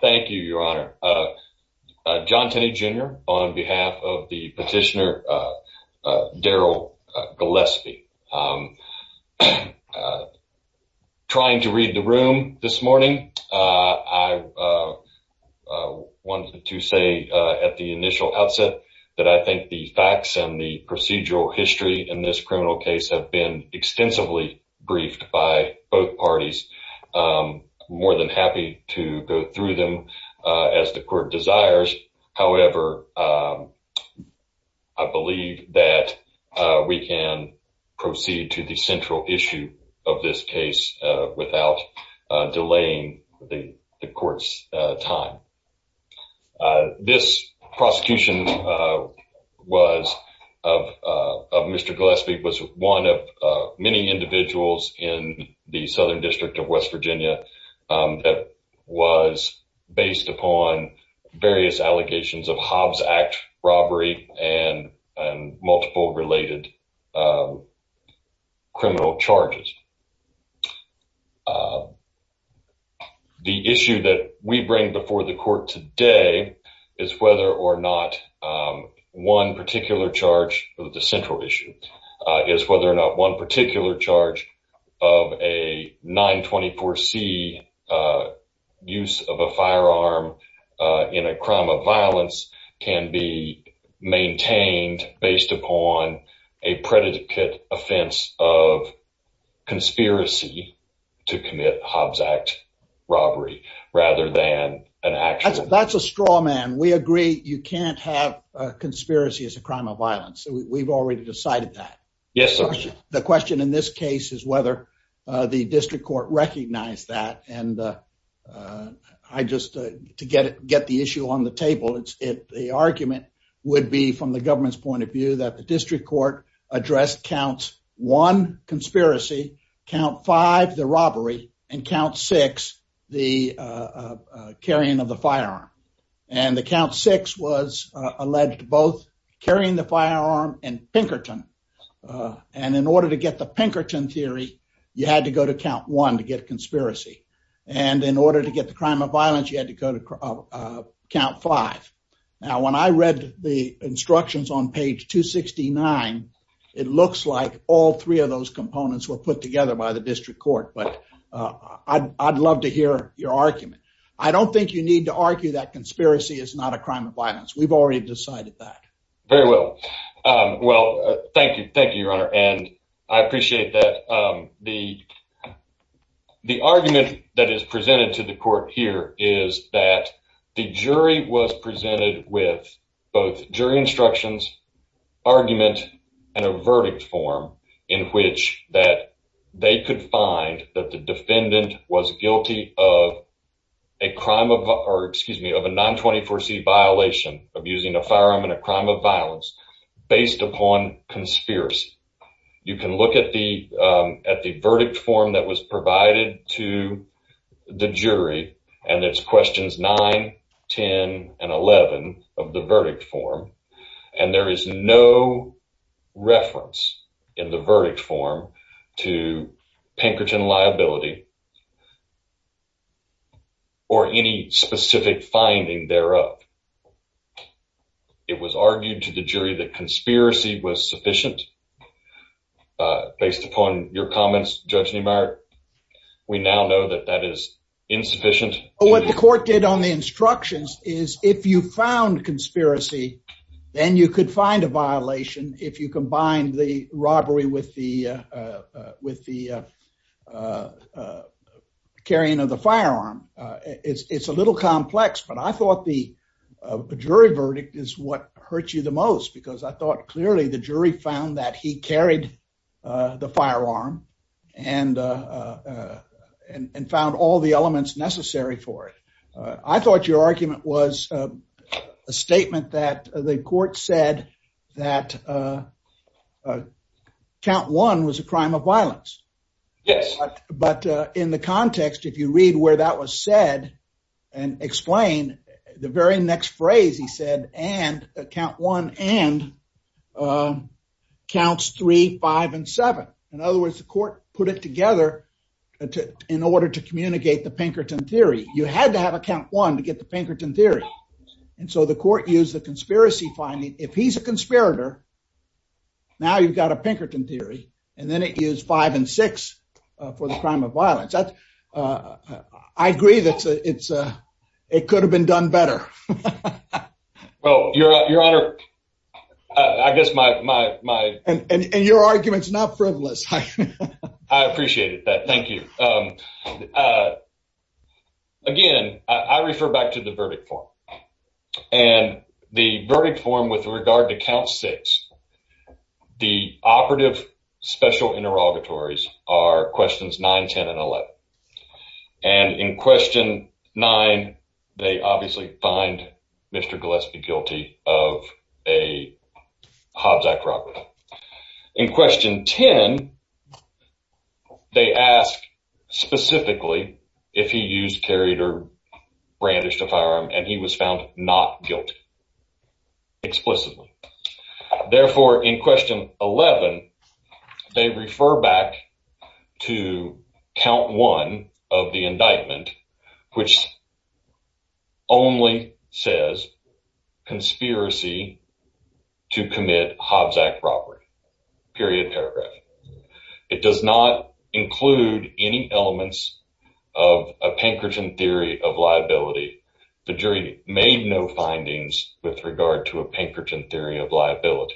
Thank you, Your Honor. John Tenney Jr. on behalf of the petitioner Darrell Gillespie. Trying to read the room this morning, I wanted to say at the initial outset that I think the facts and the procedural history in this criminal case have been extensively briefed by both parties. I'm more than happy to go through them as the court desires. However, I believe that we can proceed to the central issue of this case without delaying the court's time. This prosecution of Mr. Gillespie was one of many individuals in the Southern District of West Virginia that was based upon various allegations of Hobbs Act robbery and multiple related criminal charges. The issue that we bring before the court today is whether or not one particular charge of the central issue is whether or not one particular charge of a 924c use of a firearm in a crime of violence can be maintained based upon a predicate offense of conspiracy to commit Hobbs Act robbery rather than an actual. That's a straw man. We agree you can't have a conspiracy as a crime of violence. We've already decided that. Yes, and I just to get the issue on the table, the argument would be from the government's point of view that the district court addressed count one conspiracy, count five the robbery, and count six the carrying of the firearm. And the count six was alleged both carrying the firearm and Pinkerton. And in order to get the Pinkerton theory, you had to go to count one to get conspiracy. And in order to get the crime of violence, you had to go to count five. Now, when I read the instructions on page 269, it looks like all three of those components were put together by the district court. But I'd love to hear your argument. I don't think you need to argue that conspiracy is not a crime of violence. We've already decided that. Very well. Well, thank you. Thank you, Your Honor. And I appreciate that. The the argument that is presented to the court here is that the jury was presented with both jury instructions, argument and a verdict form in which that they could find that the defendant was guilty of a crime of excuse me, a non 24 C violation of using a firearm in a crime of violence based upon conspiracy. You can look at the at the verdict form that was provided to the jury, and it's questions nine, 10 and 11 of the verdict form. And there is no reference in the verdict form to Pinkerton liability or any specific finding thereof. It was argued to the jury that conspiracy was sufficient based upon your comments, Judge Neumeier. We now know that that is insufficient. What the court did on the instructions is if you found conspiracy, then you could find a violation if you combine the robbery with the with the carrying of the firearm. It's a little complex, but I thought the jury verdict is what hurt you the most, because I thought clearly the jury found that he carried the firearm and and found all the elements necessary for it. I thought your argument was a statement that the court said that count one was a crime of violence. Yes, but in the context, if you read where that was said and explain the very next phrase, he said, and count one and counts three, five and seven. In other words, the court put it together in order to communicate the and so the court used the conspiracy finding. If he's a conspirator, now you've got a Pinkerton theory, and then it is five and six for the crime of violence. I agree that it could have been done better. Well, your honor, I guess my and your argument is not frivolous. I appreciated that. Thank you. Uh, again, I refer back to the verdict form and the verdict form with regard to count six. The operative special interrogatories are questions nine, 10 and 11. And in question nine, they obviously find Mr Gillespie guilty of a Hobbs Act robbery. In question 10, they ask specifically if he used, carried or brandished a firearm and he was found not guilty explicitly. Therefore, in question 11, they refer back to count one of the indictment, which only says conspiracy to commit Hobbs Act robbery, period, paragraph. It does not include any elements of a Pinkerton theory of liability. The jury made no findings with regard to a Pinkerton theory of liability.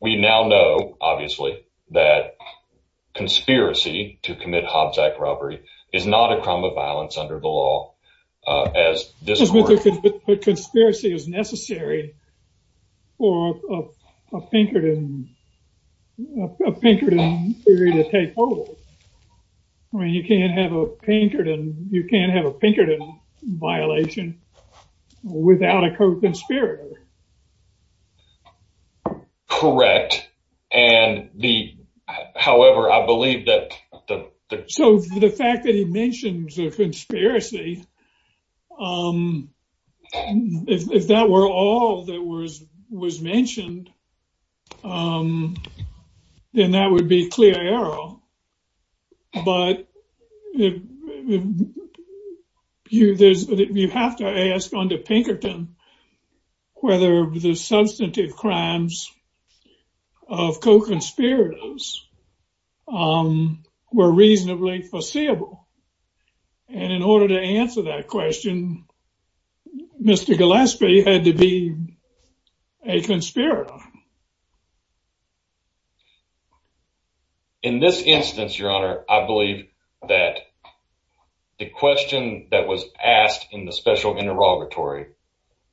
We now know obviously that conspiracy to commit Hobbs Act robbery is not a crime of violence under the law. Conspiracy is necessary for a Pinkerton theory to take hold. I mean, you can't have a Pinkerton violation without a conspiracy. Correct. And the, however, I believe that the, so the fact that he mentioned the conspiracy, if that were all that was was mentioned, then that would be clear error. But if you, there's, you have to ask under Pinkerton whether the substantive crimes of co-conspirators were reasonably foreseeable. And in order to answer that question, Mr. Gillespie had to be a conspirator. In this instance, Your Honor, I believe that the question that was asked in the special interrogatory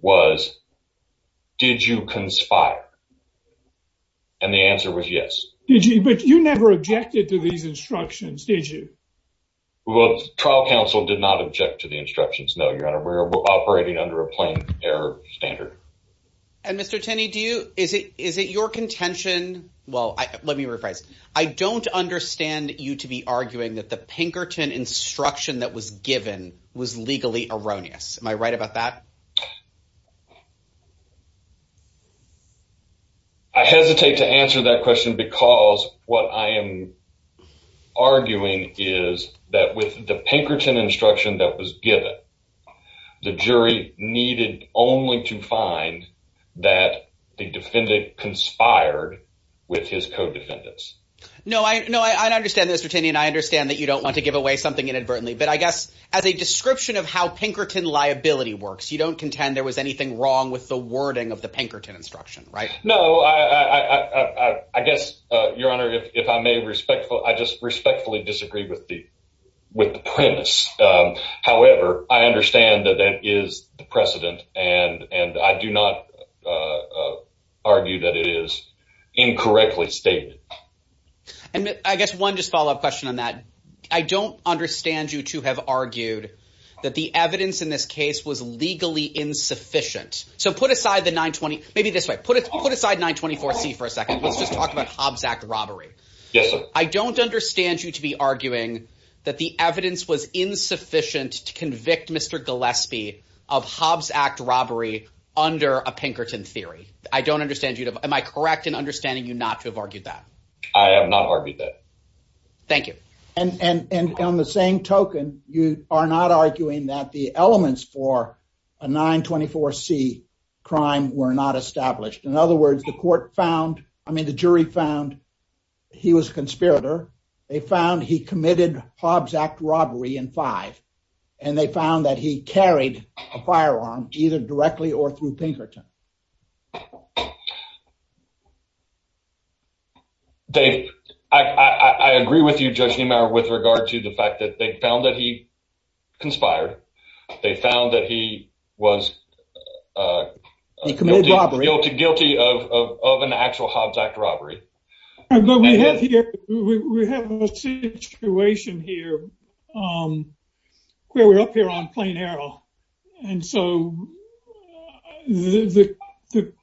was, did you conspire? And the answer was yes. Did you? But you never objected to these instructions, did you? Well, trial counsel did not object to the instructions. No, Your Honor, we're operating under a plain error standard. And Mr. Tenney, do you, is it your contention? Well, let me rephrase. I don't understand you to be arguing that the Pinkerton instruction that was given was legally erroneous. Am I right about that? I hesitate to answer that question because what I am arguing is that with the Pinkerton instruction that was given, the jury needed only to find that the defendant conspired with his co-defendants. No, I understand that, Mr. Tenney, and I understand that you don't want to give away something inadvertently. But I guess as a description of how Pinkerton liability works, you don't contend there was anything wrong with the wording of the Pinkerton instruction, right? No, I guess, Your Honor, if I may respectfully, I just respectfully disagree with the premise. However, I understand that that is the precedent and I do not argue that it is incorrectly stated. And I guess one just follow up question on that. I don't understand you to have argued that the evidence in this case was legally insufficient. So put aside the 920, maybe this way, put aside 924C for a second. Let's just talk about Hobbs Act robbery. Yes, sir. I was insufficient to convict Mr. Gillespie of Hobbs Act robbery under a Pinkerton theory. I don't understand you. Am I correct in understanding you not to have argued that? I have not argued that. Thank you. And on the same token, you are not arguing that the elements for a 924C crime were not established. In other words, the court found, I mean, the jury found he was a conspirator. They found he committed Hobbs Act robbery in five, and they found that he carried a firearm either directly or through Pinkerton. Dave, I agree with you, Judge Niemeyer, with regard to the fact that they found that he conspired. They found that he was guilty of an actual Hobbs Act robbery. But we have a situation here where we're up here on plain arrow. And so the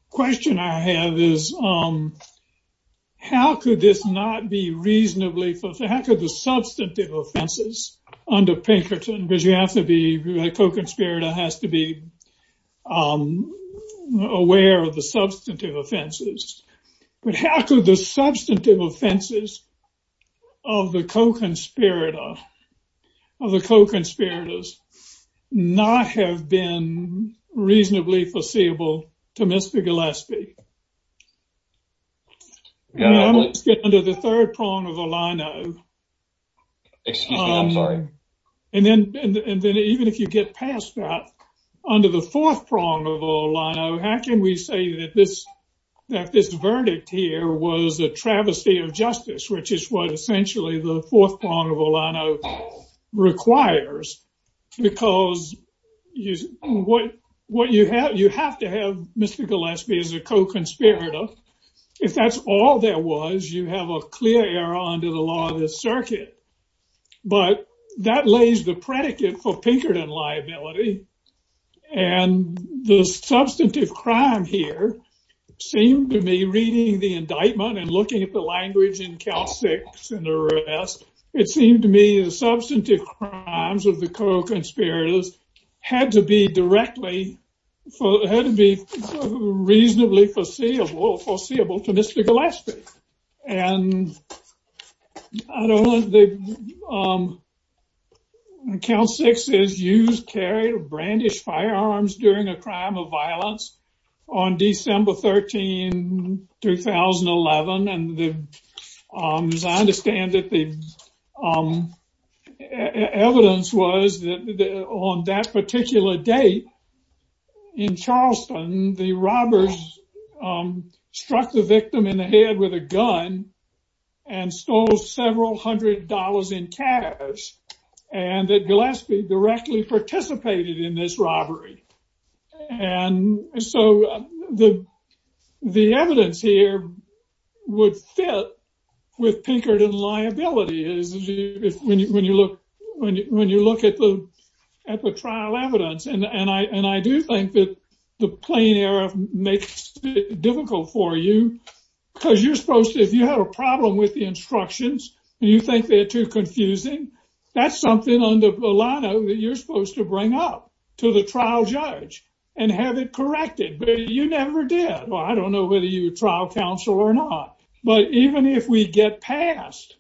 question I have is, how could this not be reasonably, how could the substantive offenses under Pinkerton, because you have to be a co-conspirator, has to be aware of the substantive offenses. But how could the substantive offenses of the co-conspirator, of the co-conspirators, not have been reasonably foreseeable to Mr. Gillespie? Now let's get under the third prong of a lino. Excuse me, I'm sorry. And then even if you get past that, under the fourth prong of a lino, how can we say that this, that this verdict here was a travesty of justice, which is what essentially the fourth prong of a lino requires? Because what you have, you have to have Mr. Gillespie as a co-conspirator. If that's all there was, you have a clear error under the law of this circuit. But that lays the predicate for Pinkerton liability. And the substantive crime here seemed to me, reading the indictment and looking at the language in count six and the rest, it seemed to me the substantive crimes of the co-conspirators had to be directly, had to be reasonably foreseeable, foreseeable to Mr. Gillespie. And I don't want the, I don't want to get ahead of myself, but count six is used, carried, or brandished firearms during a crime of violence on December 13, 2011. And as I understand it, the evidence was that on that particular date in Charleston, the robbers struck the victim in the head with a gun and stole several hundred dollars in cash, and that Gillespie directly participated in this robbery. And so the evidence here would fit with Pinkerton liability, when you look at the trial evidence. And I do think that the plain error makes it difficult for you, because you're supposed to, if you have a problem with the instructions and you think they're too confusing, that's something on the line that you're supposed to bring up to the trial judge and have it corrected. But you never did. Well, I don't know whether you trial counsel or not, but even if we get past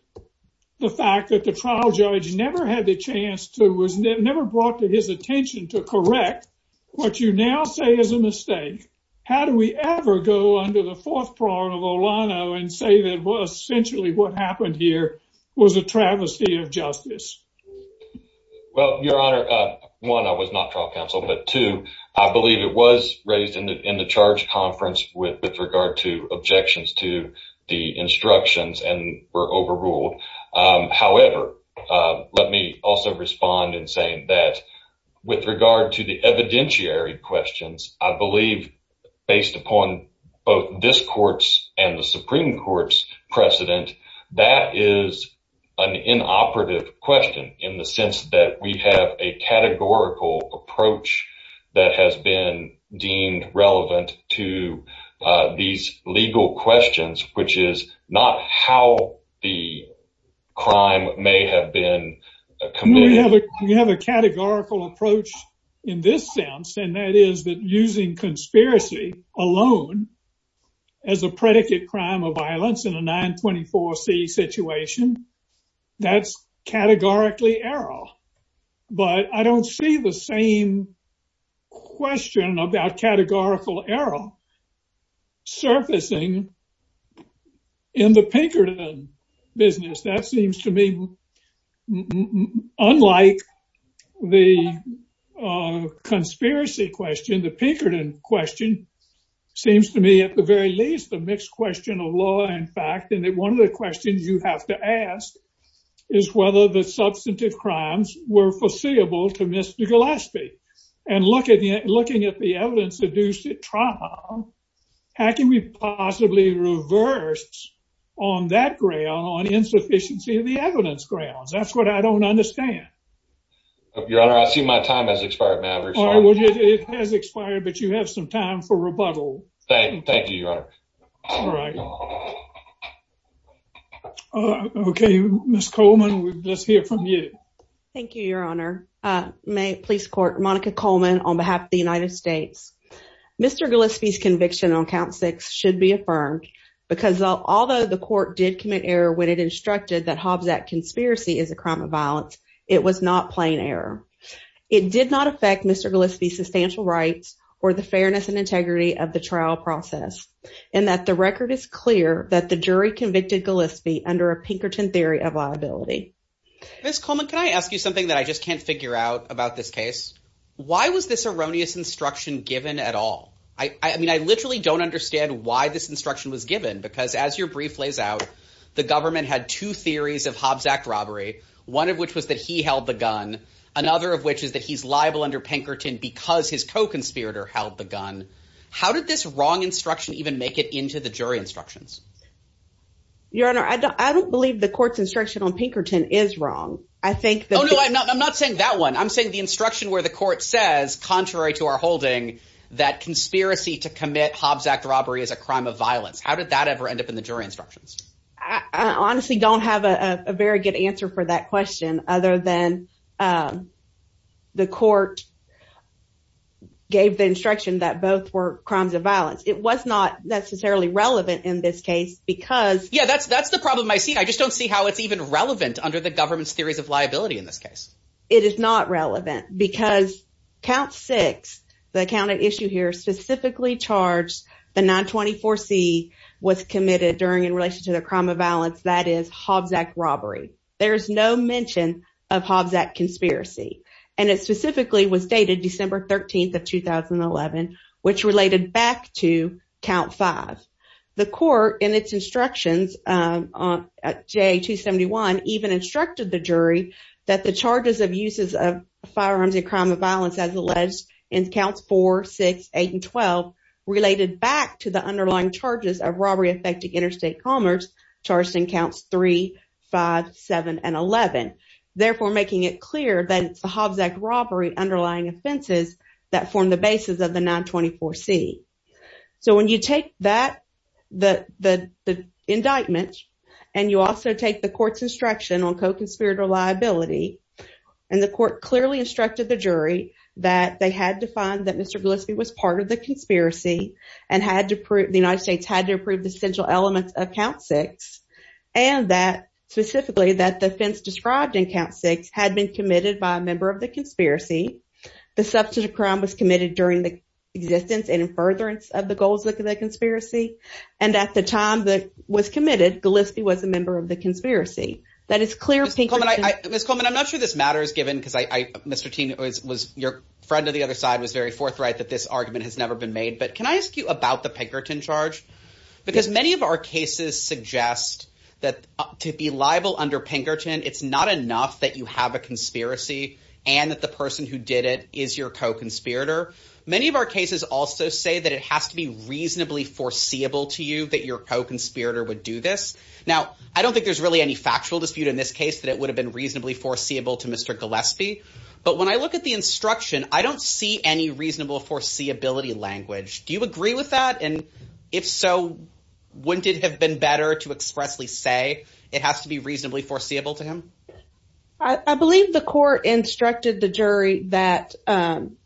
the fact that the trial judge never had the chance to, was never brought to his attention to correct, what you now say is a mistake. How do we ever go under the fourth prong of Olano and say that essentially what happened here was a travesty of justice? Well, Your Honor, one, I was not trial counsel, but two, I believe it was raised in the charge conference with regard to objections to the instructions and were overruled. However, let me also respond in saying that with regard to the evidentiary questions, I believe, based upon both this court's and the Supreme Court's precedent, that is an inoperative question in the sense that we have a categorical approach that has been deemed relevant to these legal questions, which is not how the crime may have been committed. You have a categorical approach in this sense, and that is that using conspiracy alone as a predicate crime of violence in a 924c situation, that's categorically error. But I don't see the same question about categorical error surfacing in the Pinkerton business. That seems to me, unlike the conspiracy question, the Pinkerton question seems to me at the very least, a mixed question of law and fact, and that one of the questions you have to ask is whether the substantive crimes were foreseeable to Mr. Gillespie. And looking at the evidence-induced trauma, how can we possibly reverse on that ground on insufficiency of the evidence grounds? That's what I don't understand. Your Honor, I see my time has expired, Maverick. It has expired, but you have some time for rebuttal. Thank you, Your Honor. All right. Okay, Ms. Coleman, let's hear from you. Thank you, Your Honor. Police Court, Monica Coleman on behalf of the United States. Mr. Gillespie's conviction on count six should be affirmed because although the court did commit error when it instructed that Hobbs Act conspiracy is a crime of violence, it was not plain error. It did not affect Mr. Gillespie's substantial rights or the fairness and integrity of the trial process, and that the record is clear that the jury convicted Gillespie under a Pinkerton theory of liability. Ms. Coleman, can I ask you something that I just can't figure out about this case? Why was this erroneous instruction given at all? I mean, I literally don't understand why this instruction was given because as your brief lays out, the government had two theories of Hobbs Act robbery, one of which was that he held the gun, another of which is that he's liable under Pinkerton because his co-conspirator held the gun. How did this wrong instruction even make it into the jury instructions? Your Honor, I don't believe the court's instruction on Pinkerton is wrong. I think that... Oh no, I'm not saying that one. I'm saying the instruction where the court says, contrary to our holding, that conspiracy to commit Hobbs Act robbery is a crime of violence. How did that ever end up in the jury instructions? I honestly don't have a very good answer for that question other than the court gave the instruction that both were crimes of violence. It was not necessarily relevant in this case because... Yeah, that's the problem I see. I just don't see how it's even relevant under the government's theories of liability in this case. It is not relevant because count six, the account at issue here specifically charged the 924C was committed during in relation to the crime of violence that is Hobbs Act robbery. There is no mention of Hobbs Act conspiracy, and it specifically was dated December 13th of 2011, which related back to count five. The court in its instructions at J271 even instructed the jury that the charges of uses of firearms and crime of violence as alleged in counts four, six, eight, and 12 related back to the underlying charges of robbery affecting interstate commerce charged in counts three, five, seven, and 11, therefore making it clear that it's the Hobbs Act robbery underlying offenses that form the basis of the 924C. So when you take that, the indictment, and you also take the court's instruction on co-conspirator liability, and the court clearly instructed the jury that they had to find that Mr. Gillespie was part of conspiracy, and the United States had to approve the central elements of count six, and that specifically that the offense described in count six had been committed by a member of the conspiracy. The substance of crime was committed during the existence and in furtherance of the goals of the conspiracy, and at the time that was committed, Gillespie was a member of the conspiracy. That is clear pink. Ms. Coleman, I'm not sure this matter is given because Mr. that this argument has never been made, but can I ask you about the Pinkerton charge? Because many of our cases suggest that to be liable under Pinkerton, it's not enough that you have a conspiracy and that the person who did it is your co-conspirator. Many of our cases also say that it has to be reasonably foreseeable to you that your co-conspirator would do this. Now, I don't think there's really any factual dispute in this case that it would have been reasonably foreseeable to Mr. Gillespie, but when I look at the instruction, I don't see any reasonable foreseeability language. Do you agree with that? And if so, wouldn't it have been better to expressly say it has to be reasonably foreseeable to him? I believe the court instructed the jury that, um,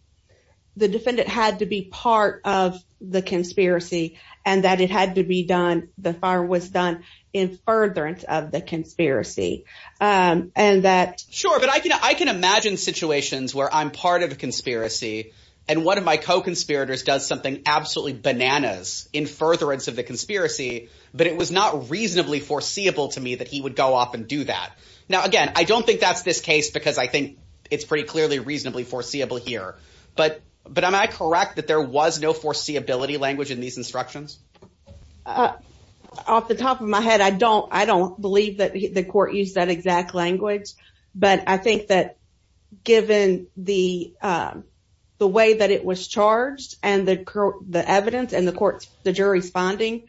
the defendant had to be part of the conspiracy and that it had to be done. The fire was done in furtherance of the conspiracy. Um, and that sure, but I can, imagine situations where I'm part of a conspiracy and one of my co-conspirators does something absolutely bananas in furtherance of the conspiracy, but it was not reasonably foreseeable to me that he would go off and do that. Now, again, I don't think that's this case because I think it's pretty clearly reasonably foreseeable here, but, but am I correct that there was no foreseeability language in these instructions? Uh, off the top of my head, I don't, I don't believe that the court used that exact language, but I think that given the, um, the way that it was charged and the evidence and the court, the jury's finding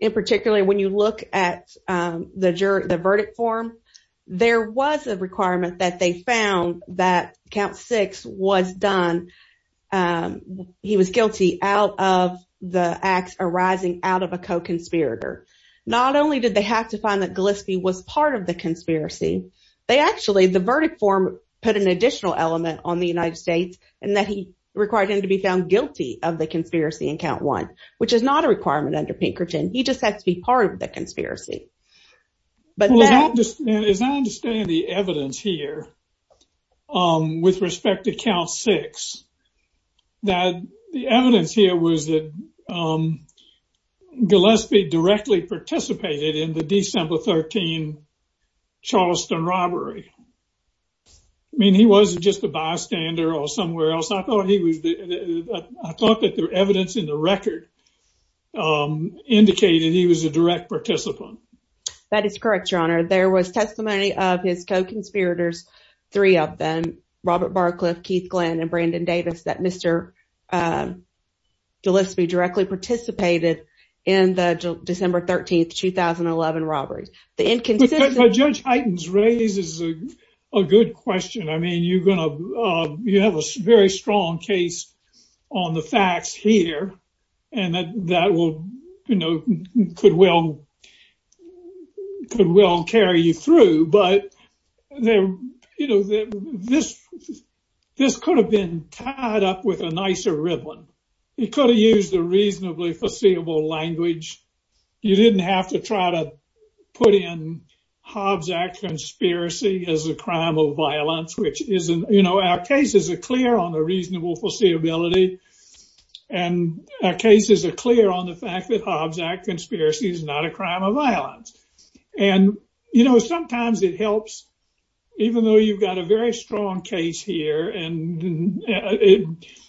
in particularly, when you look at, um, the jury, the verdict form, there was a requirement that they found that count six was done, um, he was guilty out of the acts arising out of a co-conspirator. Not only did they have to find that Gillespie was part of the conspiracy, they actually, the verdict form put an additional element on the United States and that he required him to be found guilty of the conspiracy in count one, which is not a requirement under Pinkerton. He just had to be part of the conspiracy. But as I understand the evidence here, um, with respect to count six, that the evidence here was that, um, Gillespie directly participated in the December 13 Charleston robbery. I mean, he wasn't just a bystander or somewhere else. I thought he was, I thought that the evidence in the record, um, indicated he was a direct participant. That is correct, your honor. There was testimony of his co-conspirators, three of them, Robert Barcliff, Keith Glenn, and Brandon Davis, that Mr. Um, Gillespie directly participated in the December 13, 2011 robberies. The inconsistency. Judge Heightens raises a good question. I mean, you're going to, uh, you have a very strong case on the facts here and that that will, you know, could well, could well carry you through. But there, you know, this, this could have been tied up with a nicer ribbon. He could have used a reasonably foreseeable language. You didn't have to try to put in Hobbs Act conspiracy as a crime of violence, which isn't, you know, our cases are clear on the reasonable foreseeability. And our cases are clear on the fact that Hobbs Act conspiracy is not a crime of violence. And, you know, sometimes it helps, even though you've got a very strong case here, and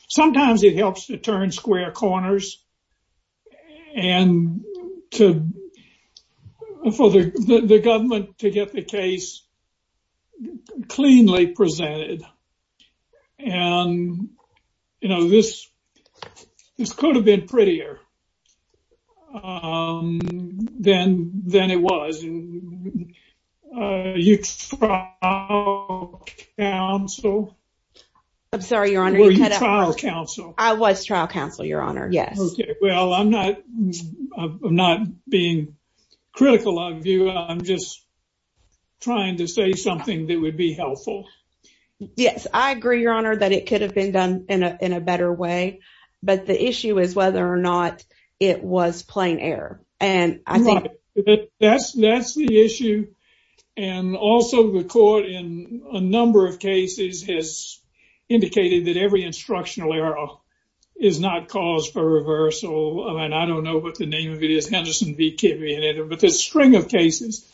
sometimes it helps to turn square corners and to, for the government to get the case cleanly presented. And, you know, this, this could have been prettier than, than it was. You trial counsel. I'm sorry, Your Honor. Were you trial counsel? I was trial counsel, Your Honor. Yes. Okay. Well, I'm not, I'm not being critical of you. I'm just trying to say something that would be helpful. Yes, I agree, Your Honor, that it could have been done in a, in a better way. But the issue is whether or not it was plain error. And I think that's, that's the issue. And also the court in a number of cases has indicated that every instructional error is not cause for reversal. I mean, I don't know what the name of it is, but there's a string of cases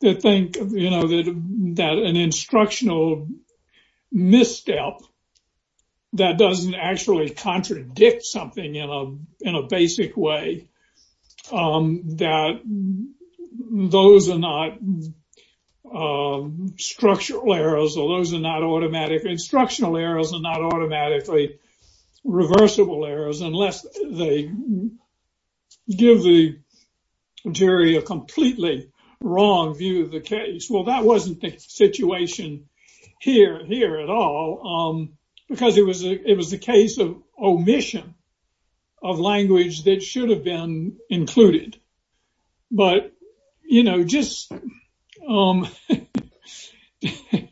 that think, you know, that an instructional misstep that doesn't actually contradict something in a, in a basic way, that those are not structural errors, or those are not automatic instructional errors, are not automatically reversible errors, unless they give the jury a completely wrong view of the case. Well, that wasn't the situation here, here at all, because it was a, it was a case of omission of language that should have been included. But, you know, just, um, you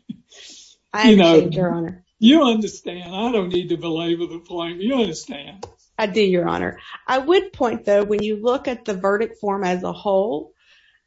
know, Your Honor, you understand, I don't need to belabor the point, you understand. I do, Your Honor. I would point, though, when you look at the verdict form as a whole,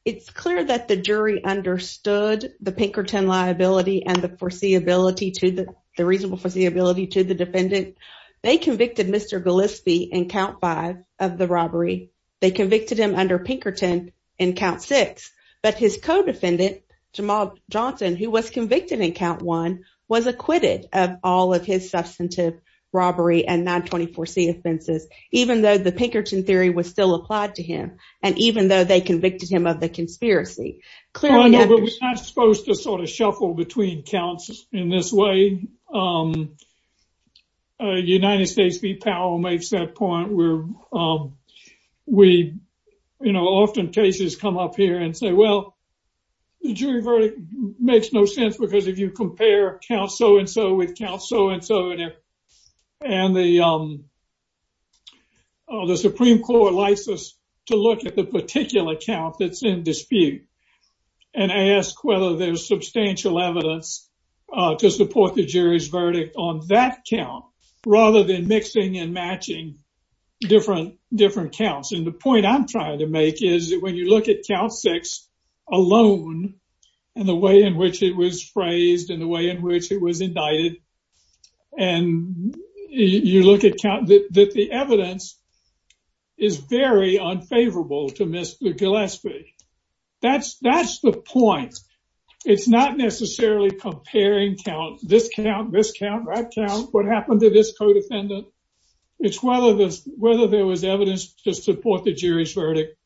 it's clear that the jury understood the Pinkerton liability and the foreseeability to the, the reasonable foreseeability to the defendant. They convicted Mr. Gillespie in count five of robbery. They convicted him under Pinkerton in count six. But his co-defendant, Jamal Johnson, who was convicted in count one, was acquitted of all of his substantive robbery and 924C offenses, even though the Pinkerton theory was still applied to him, and even though they convicted him of the conspiracy. Clearly, Your Honor, we're not supposed to sort of shuffle between counts in this way. Um, United States v. Powell makes that point where, um, we, you know, often cases come up here and say, well, the jury verdict makes no sense because if you compare count so-and-so with count so-and-so, and if, and the, um, the Supreme Court likes us to look at the particular count that's in dispute and ask whether there's substantial evidence to support the jury's verdict on that count, rather than mixing and matching different, different counts. And the point I'm trying to make is that when you look at count six alone, and the way in which it was phrased, and the way in which it was indicted, and you look at count, that the evidence is very unfavorable to Mr. Gillespie. That's, that's the point. It's not necessarily comparing count, this count, this count, that count, what happened to this co-defendant. It's whether there's, whether there was evidence to support the jury's verdict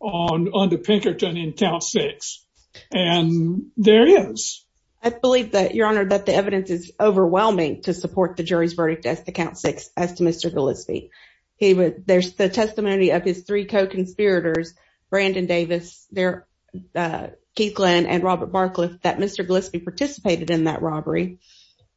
on, under Pinkerton in count six. And there is. I believe that, Your Honor, that the evidence is overwhelming to support the jury's verdict as to count six, as to Mr. Gillespie. He would, there's the testimony of his three co-conspirators, Brandon Davis, Keith Lynn, and Robert Barcliff, that Mr. Gillespie participated in that robbery.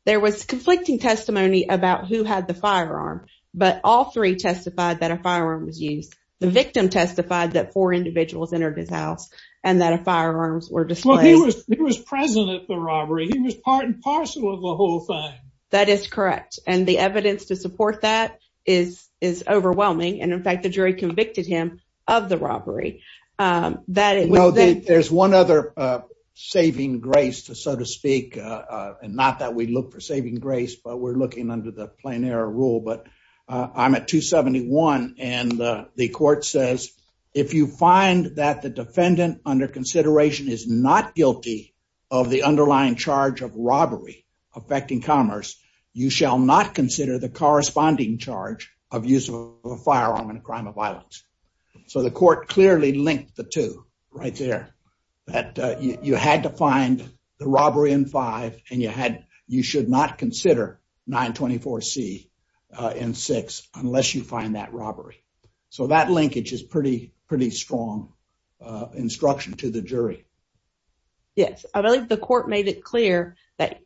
There was conflicting testimony about who had the firearm, but all three testified that a firearm was used. The victim testified that four individuals entered his house and that a firearms were displayed. Well, he was, he was present at the robbery. He was part and parcel of the whole thing. That is correct. And the evidence to support that is, is overwhelming. And in fact, the jury convicted him of the robbery. There's one other saving grace to, so to speak, and not that we look for saving grace, but we're looking under the plein air rule, but I'm at 271 and the court says, if you find that the defendant under consideration is not guilty of the underlying charge of robbery affecting commerce, you shall not consider the corresponding charge of use of a firearm in a crime of violence. So the court clearly linked the two right there, that you had to find the robbery in five and you had, you should not consider 924C in six unless you find that robbery. So that linkage is pretty, pretty strong instruction to the jury. Yes, I believe the court made it clear that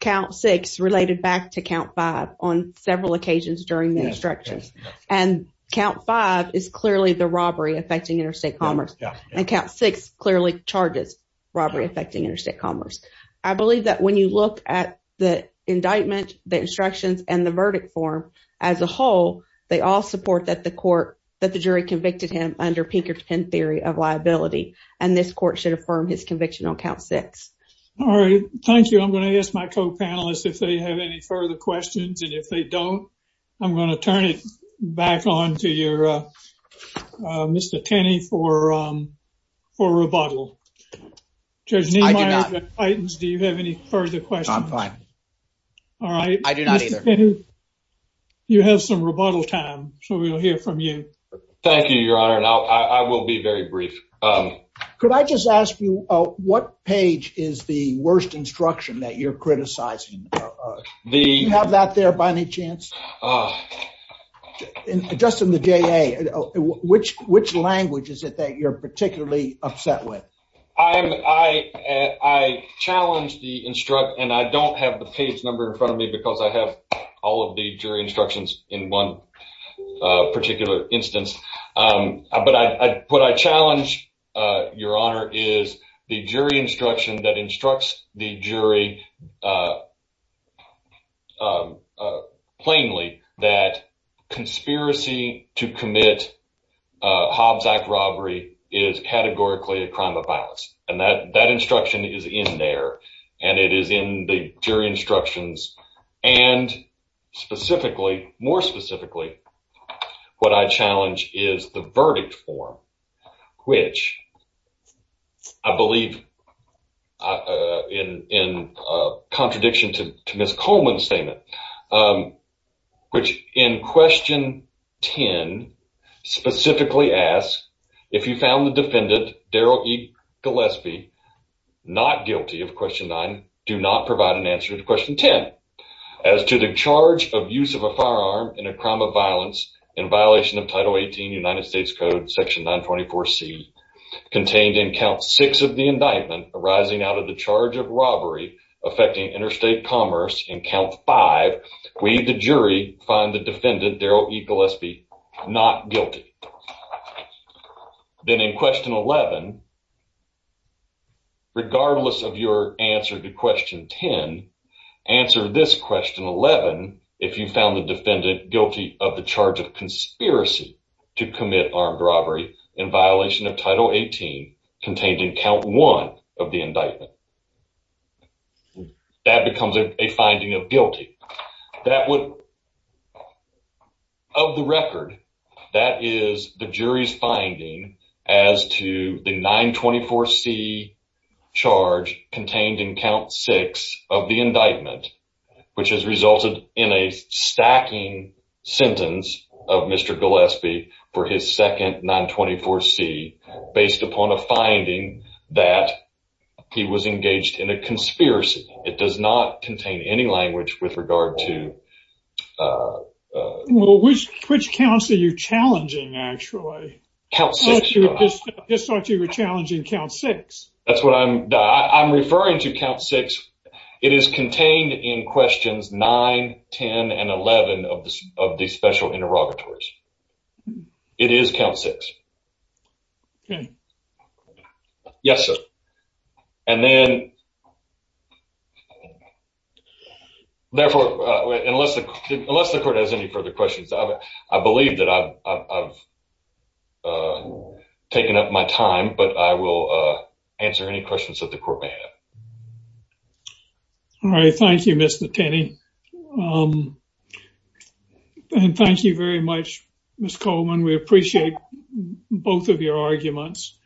count six related back to count five on several occasions during the instructions and count five is clearly the robbery affecting interstate commerce and count six clearly charges robbery affecting interstate commerce. I believe that when you look at the indictment, the instructions and the verdict form as a whole, they all support that the court, that the jury convicted him under Pinkerton theory of liability. And this court should affirm his conviction on count six. All right. Thank you. I'm going to ask my co-panelists if they have any further questions and if they don't, I'm going to turn it back on to your, uh, uh, Mr. Tenney for, um, for rebuttal. Judge, do you have any further questions? I'm fine. All right. I do not either. You have some rebuttal time, so we'll hear from you. Thank you, your honor. And I'll, I will be very brief. Um, could I just ask you, uh, what page is the worst instruction that you're criticizing? Do you have that there by any chance? Uh, just in the JA, which, which language is it that you're particularly upset with? I'm, I, I challenged the instruct and I don't have the page number in front of me because I have all of the jury instructions in one, uh, particular instance. Um, but I, I, what I challenged, uh, your honor is the jury instruction that instructs the jury, uh, uh, plainly that conspiracy to commit, uh, Hobbs Act robbery is categorically a crime of violence. And that, that instruction is in there and it is in the jury instructions. And specifically, more specifically, what I challenge is the verdict form, which I believe, uh, uh, in, in, uh, contradiction to Ms. Coleman's statement, um, which in question 10 specifically asks if you found the defendant, Daryl E. Gillespie, not guilty of question nine, do not provide an answer to question 10. As to the charge of use of a firearm in a crime of violence in violation of title 18 United States code section 924 C contained in count six of the indictment arising out of the charge of robbery affecting interstate commerce in count five, we, the jury find the defendant, Daryl E. Gillespie, not guilty. Then in question 11, regardless of your answer to question 10, answer this question 11, if you found the defendant guilty of the charge of conspiracy to commit armed robbery in violation of title 18 contained in count one of the indictment, that becomes a finding of guilty. That would, of the record, that is the jury's finding as to the 924 C charge contained in count six of the indictment, which has resulted in a stacking sentence of Mr. Gillespie for his second 924 C based upon a finding that he was engaged in a conspiracy. It does not contain any language with regard to, uh, uh, well, which, which counts are you challenging? Actually, just thought you were challenging count six. That's what I'm, I'm referring to count six. It is contained in questions nine, 10, and 11 of the, of the special interrogatories. It is count six. Okay. Yes, sir. And then uh, therefore, uh, unless the, unless the court has any further questions, I believe that I've, I've, uh, taken up my time, but I will, uh, answer any questions that the court may have. All right. Thank you, Mr. Tenney. Um, and thank you very much, Ms. Coleman. We appreciate both of your arguments.